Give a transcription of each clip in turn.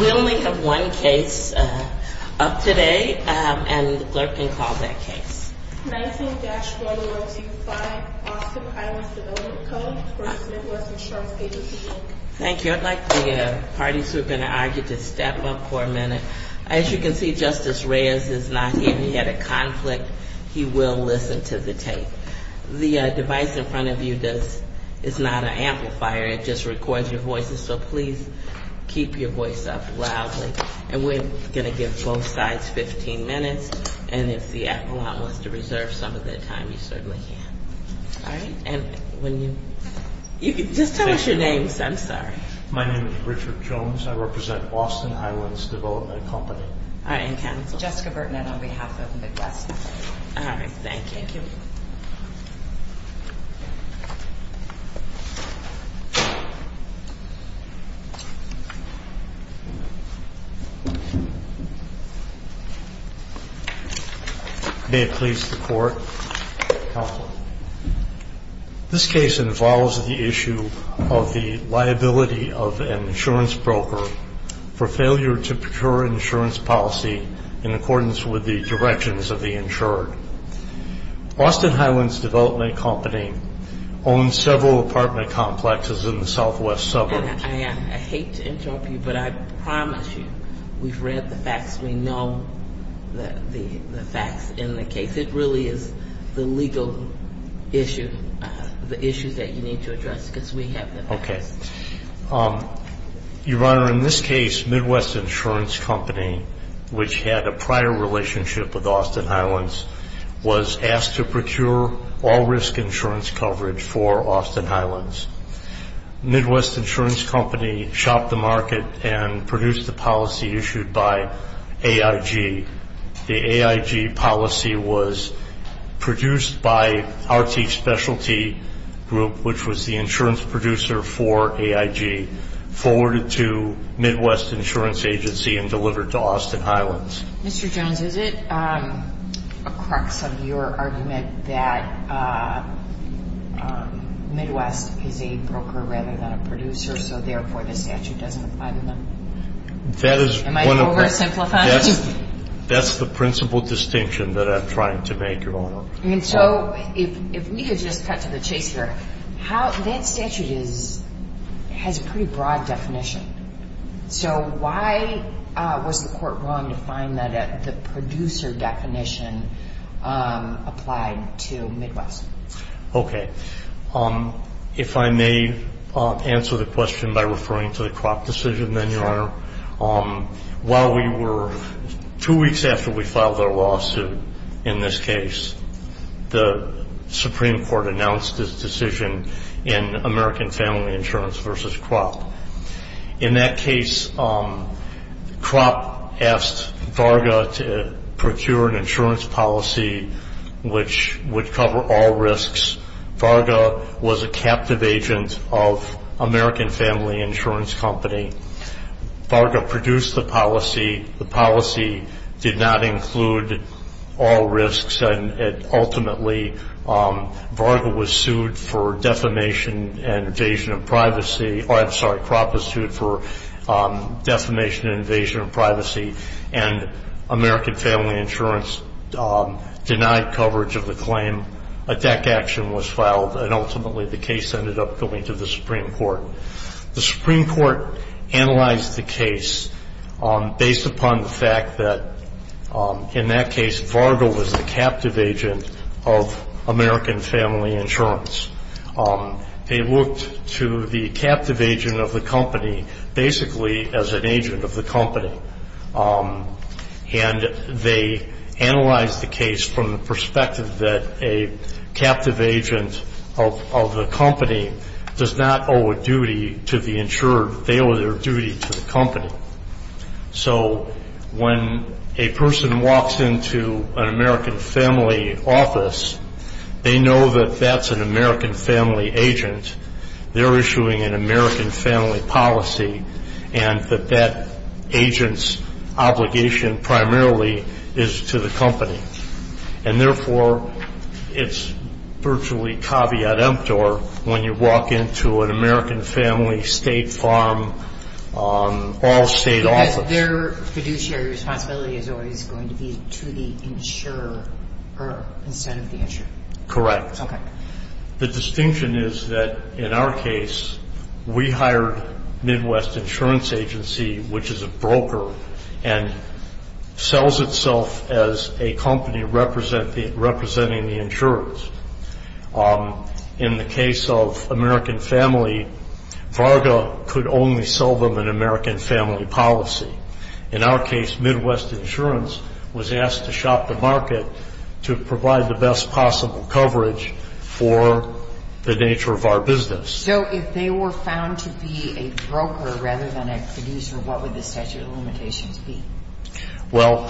We only have one case up today, and the clerk can call that case. 19-1025 Austin Highlands Development Co. v. Midwest Insurance Agency, Inc. Thank you. I'd like the parties who have been argued to step up for a minute. As you can see, Justice Reyes is not here. He had a conflict. He will listen to the tape. The device in front of you is not an amplifier. It just records your voices, so please keep your voice up loudly. And we're going to give both sides 15 minutes, and if the appellant wants to reserve some of their time, you certainly can. All right, and when you... Just tell us your names. I'm sorry. My name is Richard Jones. I represent Austin Highlands Development Co. All right, and counsel. Jessica Burton, and on behalf of Midwest. All right, thank you. Thank you. Thank you. May it please the Court. Counsel. This case involves the issue of the liability of an insurance broker for failure to procure insurance policy in accordance with the directions of the insured. Austin Highlands Development Company owns several apartment complexes in the southwest suburbs. I hate to interrupt you, but I promise you we've read the facts. We know the facts in the case. It really is the legal issue, the issues that you need to address, because we have the facts. Okay. Your Honor, in this case, Midwest Insurance Company, which had a prior relationship with Austin Highlands, was asked to procure all risk insurance coverage for Austin Highlands. Midwest Insurance Company shopped the market and produced the policy issued by AIG. The AIG policy was produced by RT Specialty Group, which was the insurance producer for AIG, forwarded to Midwest Insurance Agency, and delivered to Austin Highlands. Mr. Jones, is it a crux of your argument that Midwest is a broker rather than a producer, so therefore the statute doesn't apply to them? Am I oversimplifying? That's the principal distinction that I'm trying to make, Your Honor. And so if we could just cut to the chase here, that statute has a pretty broad definition. So why was the court willing to find that the producer definition applied to Midwest? Okay. If I may answer the question by referring to the crop decision, then, Your Honor, while we were – two weeks after we filed our lawsuit in this case, the Supreme Court announced its decision in American Family Insurance v. Crop. In that case, Crop asked Varga to procure an insurance policy which would cover all risks. Varga was a captive agent of American Family Insurance Company. Varga produced the policy. The policy did not include all risks, and ultimately Varga was sued for defamation and invasion of privacy – I'm sorry, Crop was sued for defamation and invasion of privacy, and American Family Insurance denied coverage of the claim. Attack action was filed, and ultimately the case ended up going to the Supreme Court. The Supreme Court analyzed the case based upon the fact that, in that case, Varga was the captive agent of American Family Insurance. They looked to the captive agent of the company basically as an agent of the company, and they analyzed the case from the perspective that a captive agent of the company does not owe a duty to the insurer. They owe their duty to the company. So when a person walks into an American Family office, they know that that's an American Family agent. They're issuing an American Family policy, and that that agent's obligation primarily is to the company. And therefore, it's virtually caveat emptor when you walk into an American Family state farm, all-state office. So their fiduciary responsibility is always going to be to the insurer instead of the insurer? Correct. Okay. The distinction is that, in our case, we hired Midwest Insurance Agency, which is a broker, and sells itself as a company representing the insurers. In the case of American Family, Varga could only sell them an American Family policy. In our case, Midwest Insurance was asked to shop the market to provide the best possible coverage for the nature of our business. So if they were found to be a broker rather than a producer, what would the statute of limitations be? Well,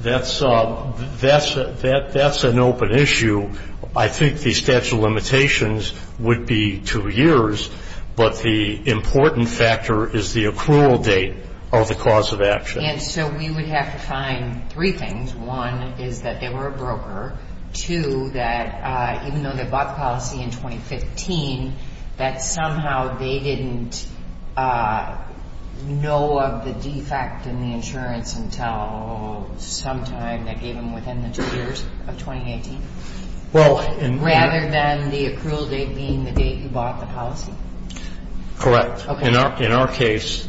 that's an open issue. I think the statute of limitations would be two years, but the important factor is the accrual date of the cause of action. And so we would have to find three things. One is that they were a broker. Two, that even though they bought the policy in 2015, that somehow they didn't know of the defect in the insurance until sometime that gave them within the two years of 2018, rather than the accrual date being the date you bought the policy. Correct. In our case,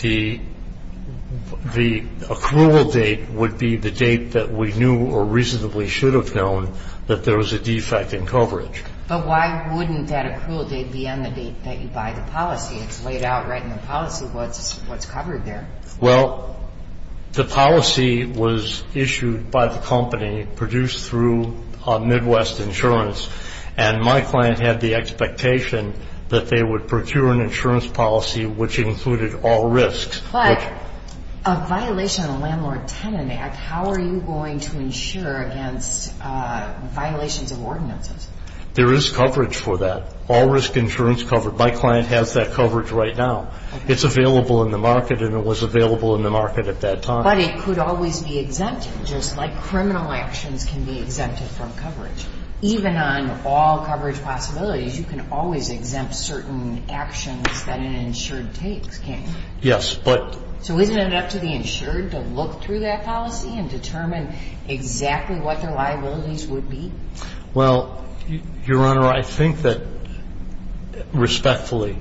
the accrual date would be the date that we knew or reasonably should have known that there was a defect in coverage. But why wouldn't that accrual date be on the date that you buy the policy? It's laid out right in the policy what's covered there. Well, the policy was issued by the company, produced through Midwest Insurance, and my client had the expectation that they would procure an insurance policy which included all risks. But a violation of the Landlord-Tenant Act, how are you going to insure against violations of ordinances? There is coverage for that, all risk insurance coverage. My client has that coverage right now. It's available in the market, and it was available in the market at that time. But it could always be exempted, just like criminal actions can be exempted from coverage. Even on all coverage possibilities, you can always exempt certain actions that an insured takes, can't you? Yes. So isn't it up to the insured to look through that policy and determine exactly what their liabilities would be? Well, Your Honor, I think that, respectfully,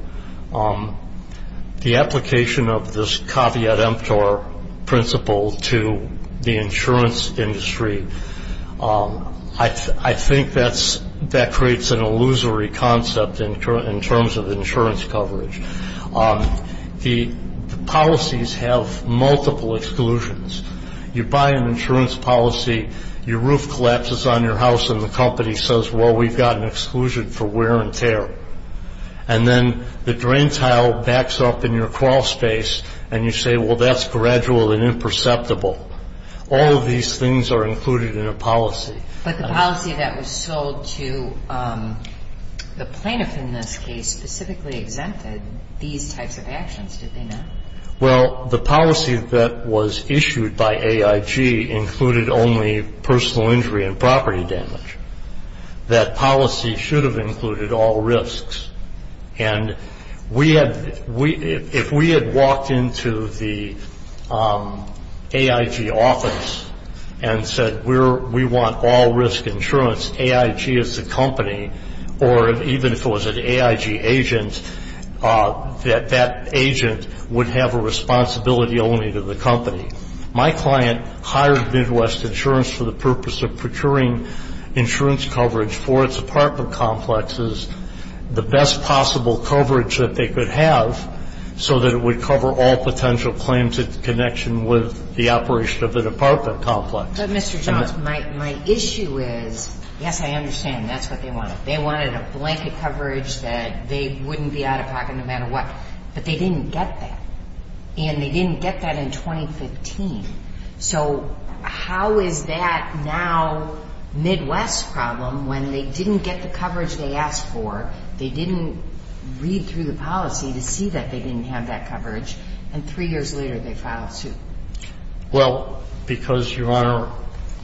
the application of this caveat emptor principle to the insurance industry, I think that creates an illusory concept in terms of insurance coverage. The policies have multiple exclusions. You buy an insurance policy, your roof collapses on your house, and the company says, well, we've got an exclusion for wear and tear. And then the drain tile backs up in your crawl space, and you say, well, that's gradual and imperceptible. All of these things are included in a policy. But the policy that was sold to the plaintiff in this case specifically exempted these types of actions, did they not? Well, the policy that was issued by AIG included only personal injury and property damage. That policy should have included all risks. And if we had walked into the AIG office and said we want all risk insurance, AIG is the company, or even if it was an AIG agent, that that agent would have a responsibility only to the company. My client hired Midwest Insurance for the purpose of procuring insurance coverage for its apartment complexes. The best possible coverage that they could have so that it would cover all potential claims in connection with the operation of the apartment complex. But, Mr. Johns, my issue is, yes, I understand that's what they wanted. They wanted a blanket coverage that they wouldn't be out of pocket no matter what. But they didn't get that. And they didn't get that in 2015. So how is that now Midwest's problem when they didn't get the coverage they asked for, they didn't read through the policy to see that they didn't have that coverage, and three years later they filed suit? Well, because, Your Honor,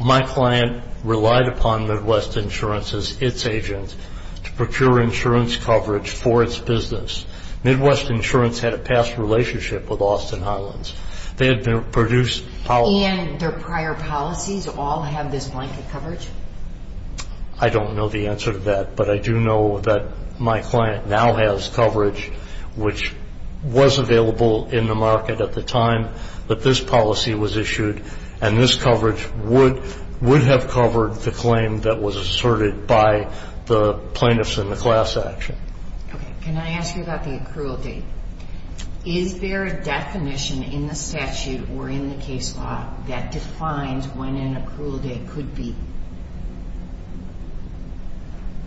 my client relied upon Midwest Insurance as its agent to procure insurance coverage for its business. Midwest Insurance had a past relationship with Austin Highlands. And their prior policies all have this blanket coverage? I don't know the answer to that, but I do know that my client now has coverage which was available in the market at the time that this policy was issued, and this coverage would have covered the claim that was asserted by the plaintiffs in the class action. Okay. Can I ask you about the accrual date? Is there a definition in the statute or in the case law that defines when an accrual date could be?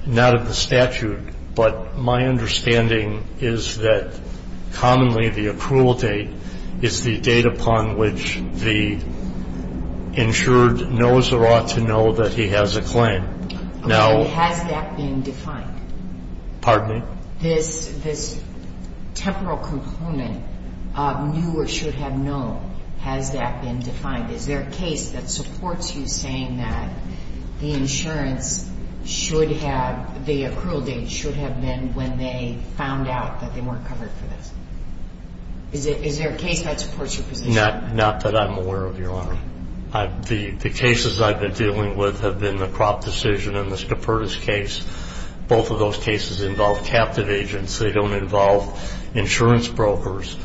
Not in the statute, but my understanding is that commonly the accrual date is the date upon which the insured knows or ought to know that he has a claim. Okay. Has that been defined? Pardon me? This temporal component of knew or should have known, has that been defined? Is there a case that supports you saying that the insurance should have, the accrual date should have been when they found out that they weren't covered for this? Is there a case that supports your position? Not that I'm aware of, Your Honor. The cases I've been dealing with have been the Kropp decision and the Scheperdes case. Both of those cases involve captive agents. They don't involve insurance brokers.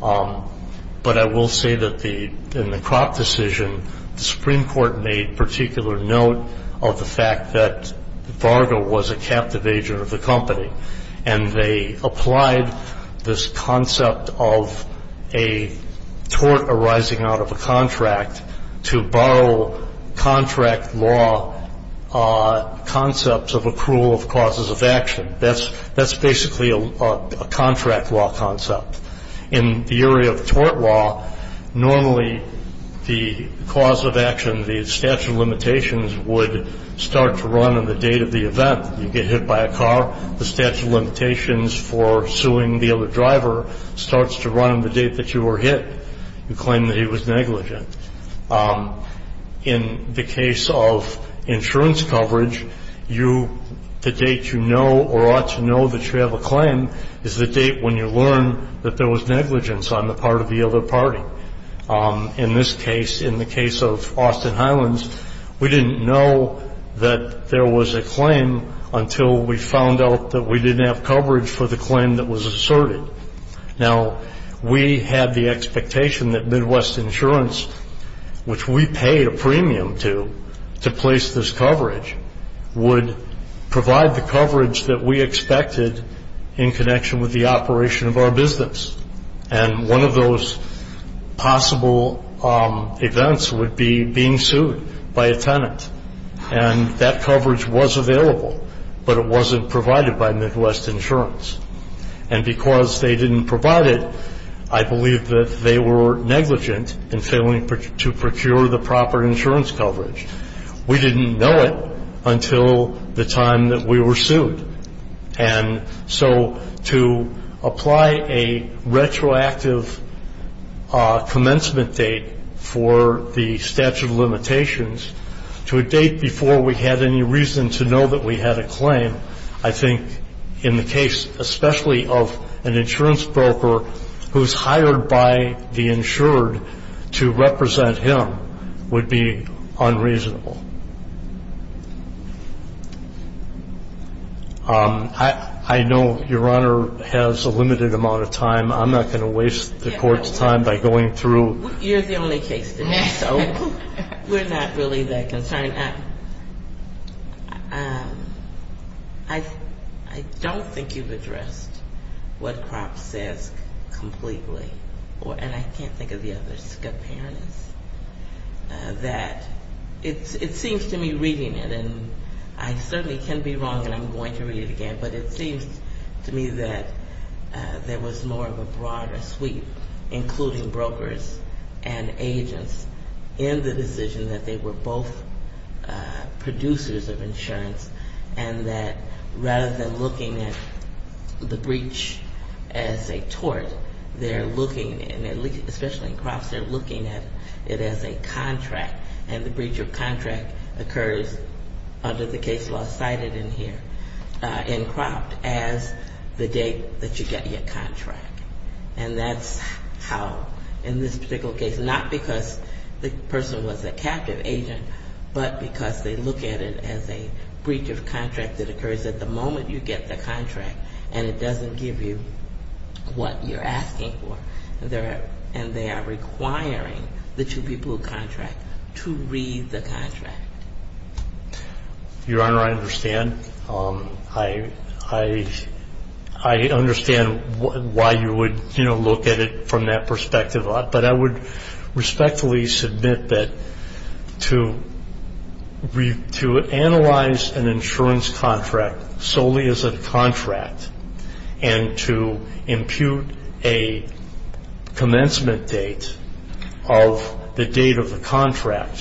But I will say that in the Kropp decision, the Supreme Court made particular note of the fact that Varga was a captive agent of the company. And they applied this concept of a tort arising out of a contract to borrow contract law concepts of accrual of causes of action. That's basically a contract law concept. In the area of tort law, normally the cause of action, the statute of limitations, would start to run on the date of the event. You get hit by a car, the statute of limitations for suing the other driver starts to run on the date that you were hit. You claim that he was negligent. In the case of insurance coverage, the date you know or ought to know that you have a claim is the date when you learn that there was negligence on the part of the other party. In this case, in the case of Austin Highlands, we didn't know that there was a claim until we found out that we didn't have coverage for the claim that was asserted. Now, we had the expectation that Midwest Insurance, which we paid a premium to to place this coverage, would provide the coverage that we expected in connection with the operation of our business. And one of those possible events would be being sued by a tenant. And that coverage was available, but it wasn't provided by Midwest Insurance. And because they didn't provide it, I believe that they were negligent in failing to procure the proper insurance coverage. We didn't know it until the time that we were sued. And so to apply a retroactive commencement date for the statute of limitations to a date before we had any reason to know that we had a claim, I think in the case especially of an insurance broker who's hired by the insured to represent him would be unreasonable. I know Your Honor has a limited amount of time. I'm not going to waste the Court's time by going through. You're the only case to me, so we're not really that concerned. I don't think you've addressed what Cropp says completely. And I can't think of the other scoparities. It seems to me reading it, and I certainly can be wrong and I'm going to read it again, but it seems to me that there was more of a broader sweep, including brokers and agents, in the decision that they were both producers of insurance and that rather than looking at the breach as a tort, they're looking, especially in Cropp's, they're looking at it as a contract. And the breach of contract occurs under the case law cited in here in Cropp as the date that you get your contract. And that's how in this particular case, not because the person was a captive agent, but because they look at it as a breach of contract that occurs at the moment you get the contract and it doesn't give you what you're asking for. And that's why I think it's important to look at it as a breach of contract. It's a breach of contract. And they are requiring the two people who contract to read the contract. Your Honor, I understand. I understand why you would, you know, look at it from that perspective, but I would respectfully submit that to analyze an insurance contract solely as a contract and to impute a commencement date of the date of the contract,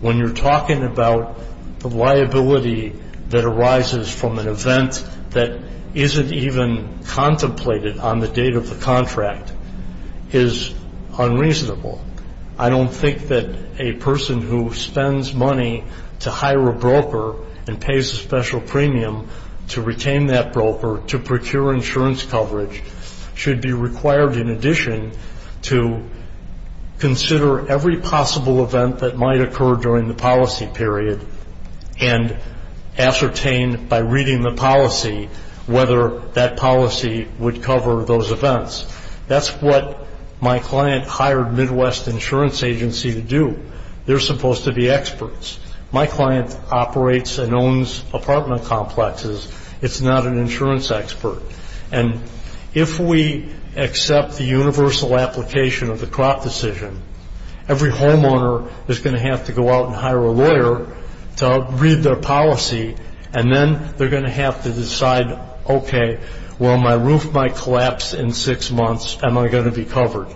when you're talking about the liability that arises from an event that isn't even contemplated on the date of the contract is unreasonable. I don't think that a person who spends money to hire a broker and pays a special premium to retain that broker to procure insurance coverage should be required in addition to consider every possible event that might occur during the policy period and ascertain by reading the policy whether that policy would cover those events. That's what my client hired Midwest Insurance Agency to do. They're supposed to be experts. My client operates and owns apartment complexes. It's not an insurance expert. And if we accept the universal application of the crop decision, every homeowner is going to have to go out and hire a lawyer to read their policy, and then they're going to have to decide, okay, well, my roof might collapse in six months. Am I going to be covered?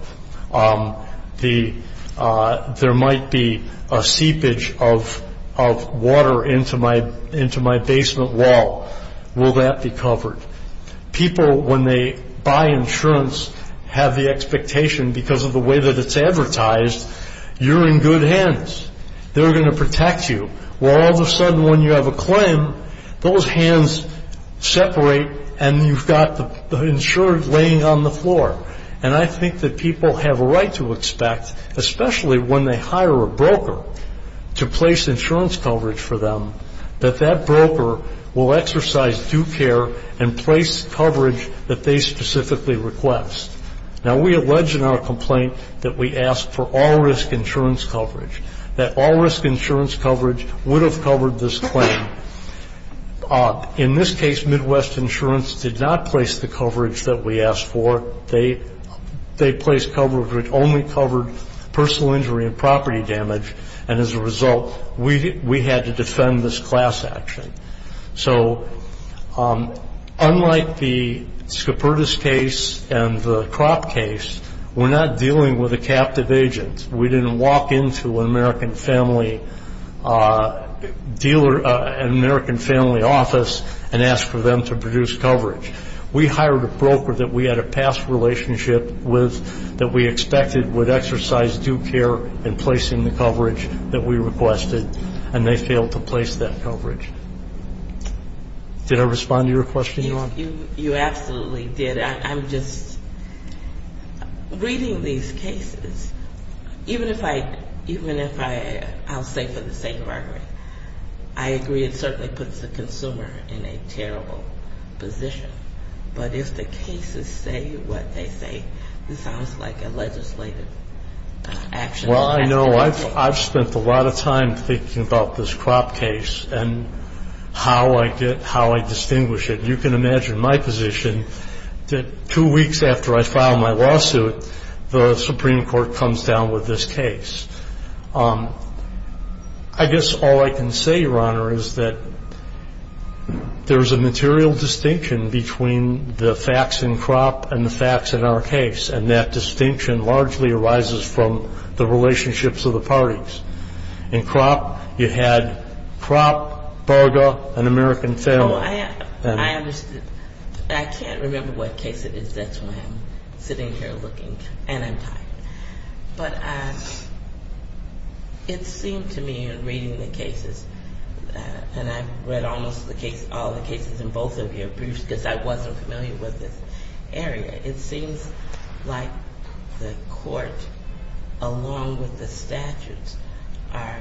There might be a seepage of water into my basement wall. Will that be covered? People, when they buy insurance, have the expectation because of the way that it's advertised, you're in good hands. They're going to protect you. Well, all of a sudden, when you have a claim, those hands separate, and you've got the insurance laying on the floor. And I think that people have a right to expect, especially when they hire a broker to place insurance coverage for them, that that broker will exercise due care and place coverage that they specifically request. Now, we allege in our complaint that we asked for all-risk insurance coverage, that all-risk insurance coverage would have covered this claim. In this case, Midwest Insurance did not place the coverage that we asked for. They placed coverage that only covered personal injury and property damage, and as a result, we had to defend this class action. So unlike the Scopertis case and the Kropp case, we're not dealing with a captive agent. We didn't walk into an American family dealer, an American family office, and ask for them to produce coverage. We hired a broker that we had a past relationship with, that we expected would exercise due care in placing the coverage that we requested, and they failed to place that coverage. Did I respond to your question, Your Honor? You absolutely did. I'm just reading these cases. Even if I'll say for the sake of argument, I agree it certainly puts the consumer in a terrible position. But if the cases say what they say, it sounds like a legislative action. Well, I know. I've spent a lot of time thinking about this Kropp case and how I distinguish it. You can imagine my position, that two weeks after I file my lawsuit, the Supreme Court comes down with this case. I guess all I can say, Your Honor, is that there's a material distinction between the facts in Kropp and the facts in our case, and that distinction largely arises from the relationships of the parties. In Kropp, you had Kropp, Berger, an American family. Oh, I understand. I can't remember what case it is. That's why I'm sitting here looking, and I'm tired. But it seemed to me in reading the cases, and I read almost all the cases in both of your briefs because I wasn't familiar with this area, it seems like the court, along with the statutes, are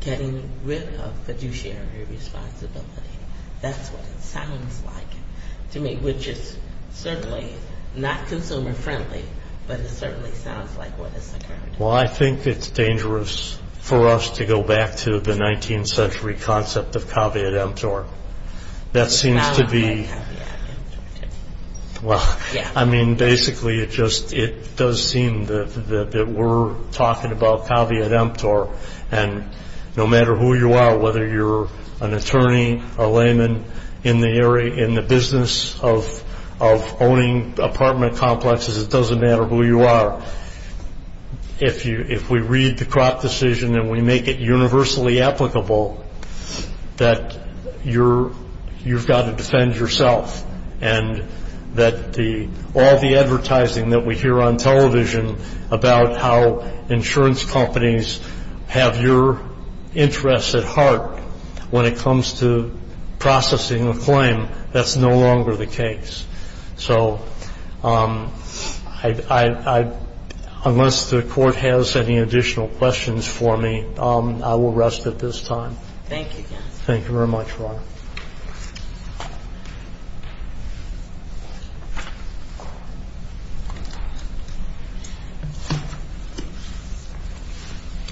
getting rid of fiduciary responsibility. That's what it sounds like to me, which is certainly not consumer-friendly, but it certainly sounds like what has occurred. Well, I think it's dangerous for us to go back to the 19th century concept of caveat emptor. That seems to be – I don't like caveat emptor, too. Well, I mean, basically it just – it does seem that we're talking about caveat emptor, and no matter who you are, whether you're an attorney, a layman in the business of owning apartment complexes, it doesn't matter who you are. If we read the Kropp decision and we make it universally applicable, that you've got to defend yourself, and that all the advertising that we hear on television about how insurance companies have your interests at heart when it comes to processing a claim, that's no longer the case. So I – unless the Court has any additional questions for me, I will rest at this time. Thank you, counsel. Thank you very much, Ron.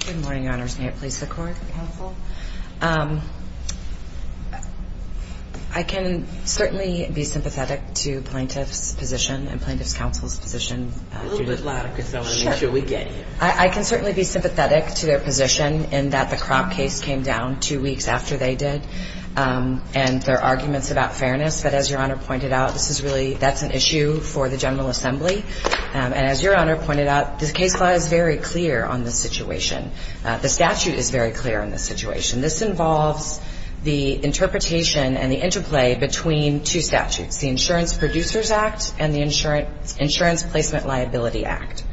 Good morning, Your Honors. May it please the Court? Counsel. I can certainly be sympathetic to plaintiffs' position and plaintiffs' counsel's position. A little bit louder, Casella. Sure. I mean, until we get here. I can certainly be sympathetic to their position in that the Kropp case came down two weeks after they did But as Your Honor pointed out, the Kropp case is not a fair case. As Your Honor pointed out, this is really – that's an issue for the General Assembly. And as Your Honor pointed out, the case law is very clear on this situation. The statute is very clear on this situation. This involves the interpretation and the interplay between two statutes, the Insurance Producers Act and the Insurance Placement Liability Act.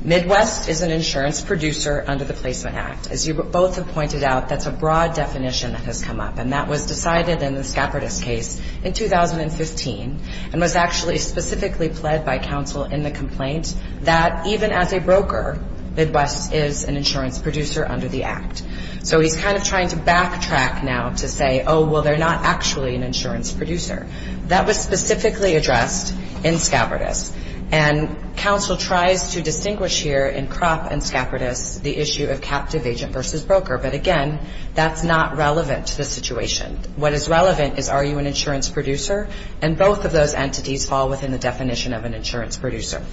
Midwest is an insurance producer under the Placement Act. As you both have pointed out, that's a broad definition that has come up. And that was decided in the Skapertus case in 2015 and was actually specifically pled by counsel in the complaint that even as a broker, Midwest is an insurance producer under the Act. So he's kind of trying to backtrack now to say, oh, well, they're not actually an insurance producer. That was specifically addressed in Skapertus. And counsel tries to distinguish here in Kropp and Skapertus the issue of captive agent versus broker. But, again, that's not relevant to the situation. What is relevant is are you an insurance producer? And both of those entities fall within the definition of an insurance producer.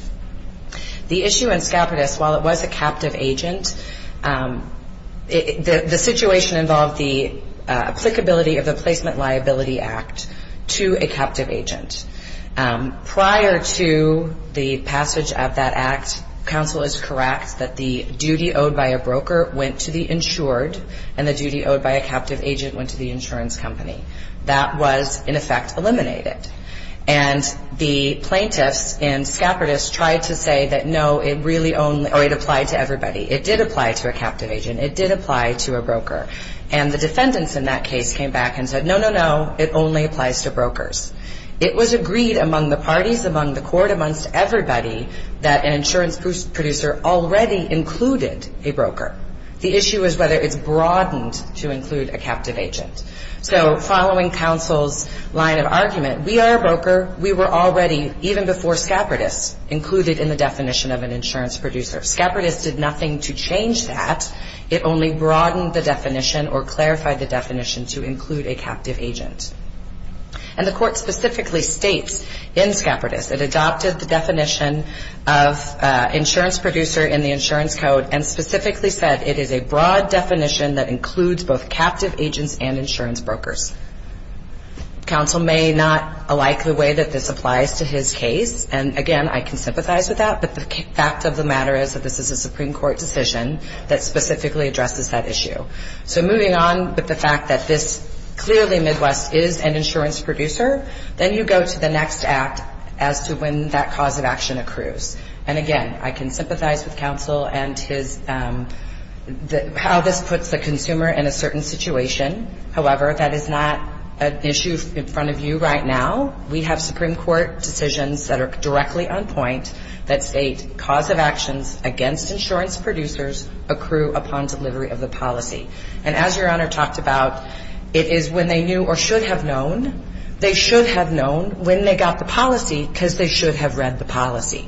The issue in Skapertus, while it was a captive agent, the situation involved the applicability of the Placement Liability Act to a captive agent. Prior to the passage of that Act, counsel is correct that the duty owed by a broker went to the insured and the duty owed by a captive agent went to the insurance company. That was, in effect, eliminated. And the plaintiffs in Skapertus tried to say that, no, it really only or it applied to everybody. It did apply to a captive agent. It did apply to a broker. And the defendants in that case came back and said, no, no, no, it only applies to brokers. It was agreed among the parties, among the court, amongst everybody, that an insurance producer already included a broker. The issue is whether it's broadened to include a captive agent. So following counsel's line of argument, we are a broker. We were already, even before Skapertus, included in the definition of an insurance producer. Skapertus did nothing to change that. It only broadened the definition or clarified the definition to include a captive agent. And the court specifically states in Skapertus, it adopted the definition of insurance producer in the insurance code and specifically said it is a broad definition that includes both captive agents and insurance brokers. Counsel may not like the way that this applies to his case. And, again, I can sympathize with that, but the fact of the matter is that this is a Supreme Court decision that specifically addresses that issue. So moving on with the fact that this clearly, Midwest, is an insurance producer, then you go to the next act as to when that cause of action accrues. And, again, I can sympathize with counsel and how this puts the consumer in a certain situation. However, that is not an issue in front of you right now. We have Supreme Court decisions that are directly on point that state cause of actions against insurance producers accrue upon delivery of the policy. And as Your Honor talked about, it is when they knew or should have known. They should have known when they got the policy because they should have read the policy.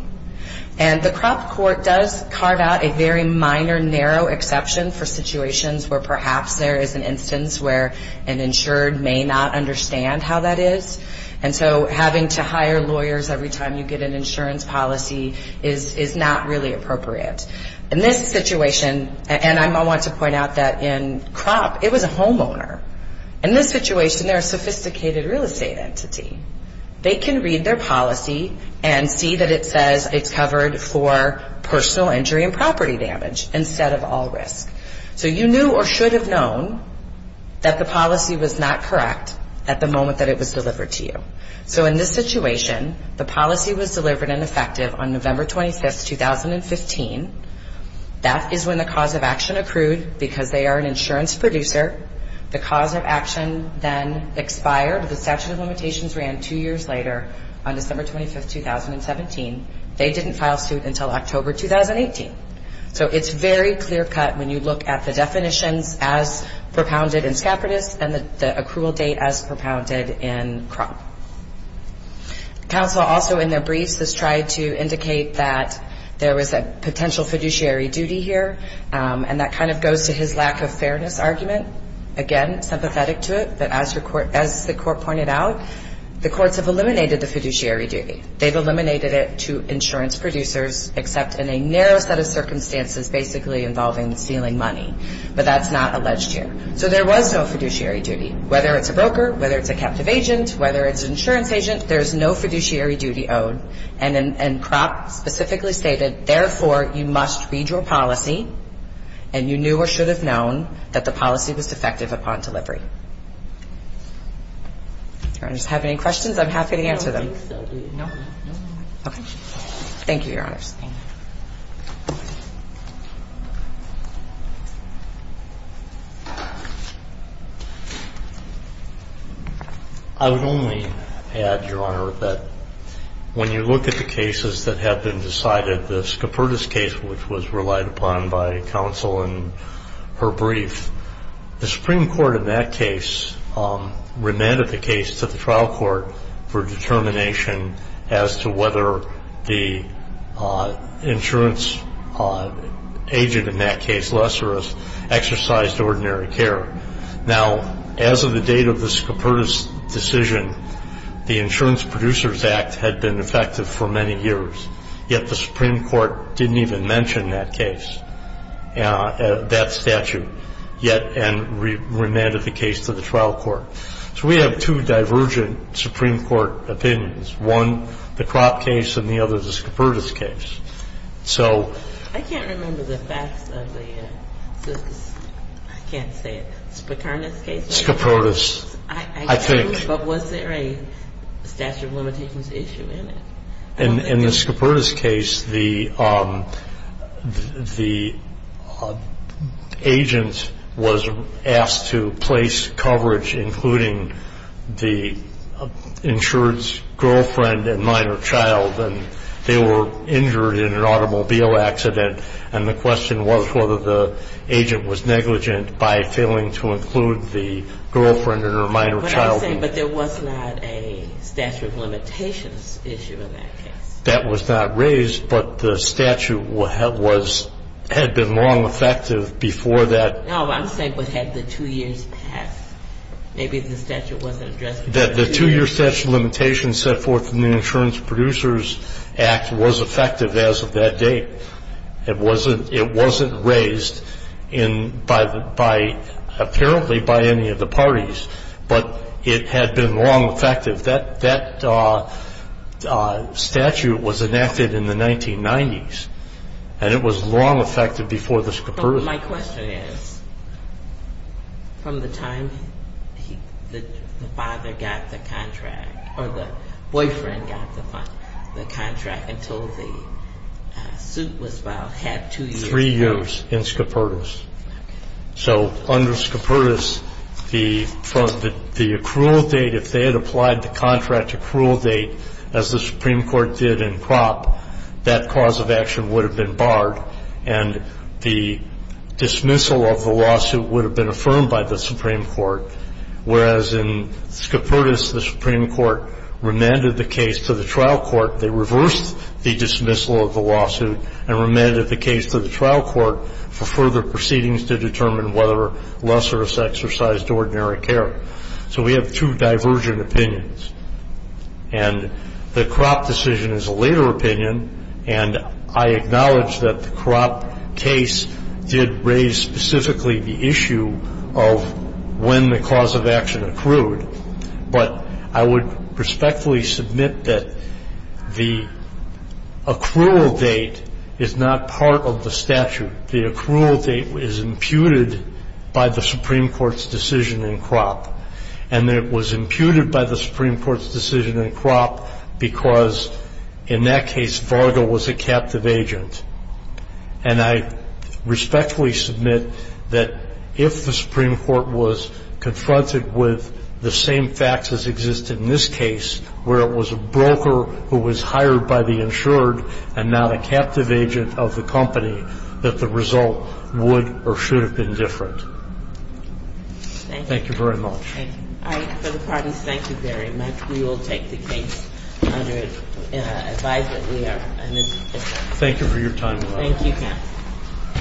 And the Crop Court does carve out a very minor, narrow exception for situations where perhaps there is an instance where an insured may not understand how that is. And so having to hire lawyers every time you get an insurance policy is not really appropriate. In this situation, and I want to point out that in Crop, it was a homeowner. In this situation, they're a sophisticated real estate entity. They can read their policy and see that it says it's covered for personal injury and property damage instead of all risk. So you knew or should have known that the policy was not correct at the moment that it was delivered to you. So in this situation, the policy was delivered and effective on November 25, 2015. That is when the cause of action accrued because they are an insurance producer. The cause of action then expired. The statute of limitations ran two years later on December 25, 2017. They didn't file suit until October 2018. So it's very clear-cut when you look at the definitions as propounded in SCAPITAS and the accrual date as propounded in Crop. Counsel also in their briefs has tried to indicate that there was a potential fiduciary duty here, and that kind of goes to his lack of fairness argument. Again, sympathetic to it, but as the court pointed out, the courts have eliminated the fiduciary duty. They've eliminated it to insurance producers except in a narrow set of circumstances basically involving stealing money, but that's not alleged here. So there was no fiduciary duty. Whether it's a broker, whether it's a captive agent, whether it's an insurance agent, there's no fiduciary duty owed. And Crop specifically stated, therefore, you must read your policy and you knew or should have known that the policy was defective upon delivery. Your Honor, do you have any questions? I'm happy to answer them. No, I don't think so. No? Okay. Thank you, Your Honors. I would only add, Your Honor, that when you look at the cases that have been decided, the SCAPITAS case, which was relied upon by counsel in her brief, the Supreme Court in that case remanded the case to the trial court for determination as to whether the insurance agent in that case, Lesseris, exercised ordinary care. Now, as of the date of the SCAPITAS decision, the Insurance Producers Act had been effective for many years, yet the Supreme Court didn't even mention that case, that statute, yet, and remanded the case to the trial court. So we have two divergent Supreme Court opinions, one the Crop case and the other the SCAPITAS case. So... I can't remember the facts of the, I can't say it, Spicarnas case? SCAPITAS, I think. But was there a statute of limitations issue in it? In the SCAPITAS case, the agent was asked to place coverage including the insured's girlfriend and minor child, and they were injured in an automobile accident, and the question was whether the agent was negligent by failing to include the girlfriend and her minor child. But I'm saying, but there was not a statute of limitations issue in that case. That was not raised, but the statute was, had been long effective before that. No, I'm saying, but had the two years passed, maybe the statute wasn't addressed. The two-year statute of limitations set forth in the Insurance Producers Act was effective as of that date. It wasn't raised in, by, apparently by any of the parties. But it had been long effective. That statute was enacted in the 1990s, and it was long effective before the SCAPITAS case. My question is, from the time the father got the contract, or the boyfriend got the contract until the suit was filed, had two years passed? Three years in SCAPITAS. So under SCAPITAS, the accrual date, if they had applied the contract accrual date, as the Supreme Court did in CROP, that cause of action would have been barred, and the dismissal of the lawsuit would have been affirmed by the Supreme Court, whereas in SCAPITAS, the Supreme Court remanded the case to the trial court. They reversed the dismissal of the lawsuit and remanded the case to the trial court for further proceedings to determine whether Lesser has exercised ordinary care. So we have two divergent opinions. And the CROP decision is a later opinion, and I acknowledge that the CROP case did raise specifically the issue of when the cause of action accrued. But I would respectfully submit that the accrual date is not part of the statute. The accrual date is imputed by the Supreme Court's decision in CROP. And it was imputed by the Supreme Court's decision in CROP because, in that case, Varga was a captive agent. And I respectfully submit that if the Supreme Court was confronted with the same facts as existed in this case, where it was a broker who was hired by the insured and not a captive agent of the company, that the result would or should have been different. Thank you very much. Thank you. All right. For the parties, thank you very much. We will take the case under advice that we are. Thank you for your time. Thank you, counsel.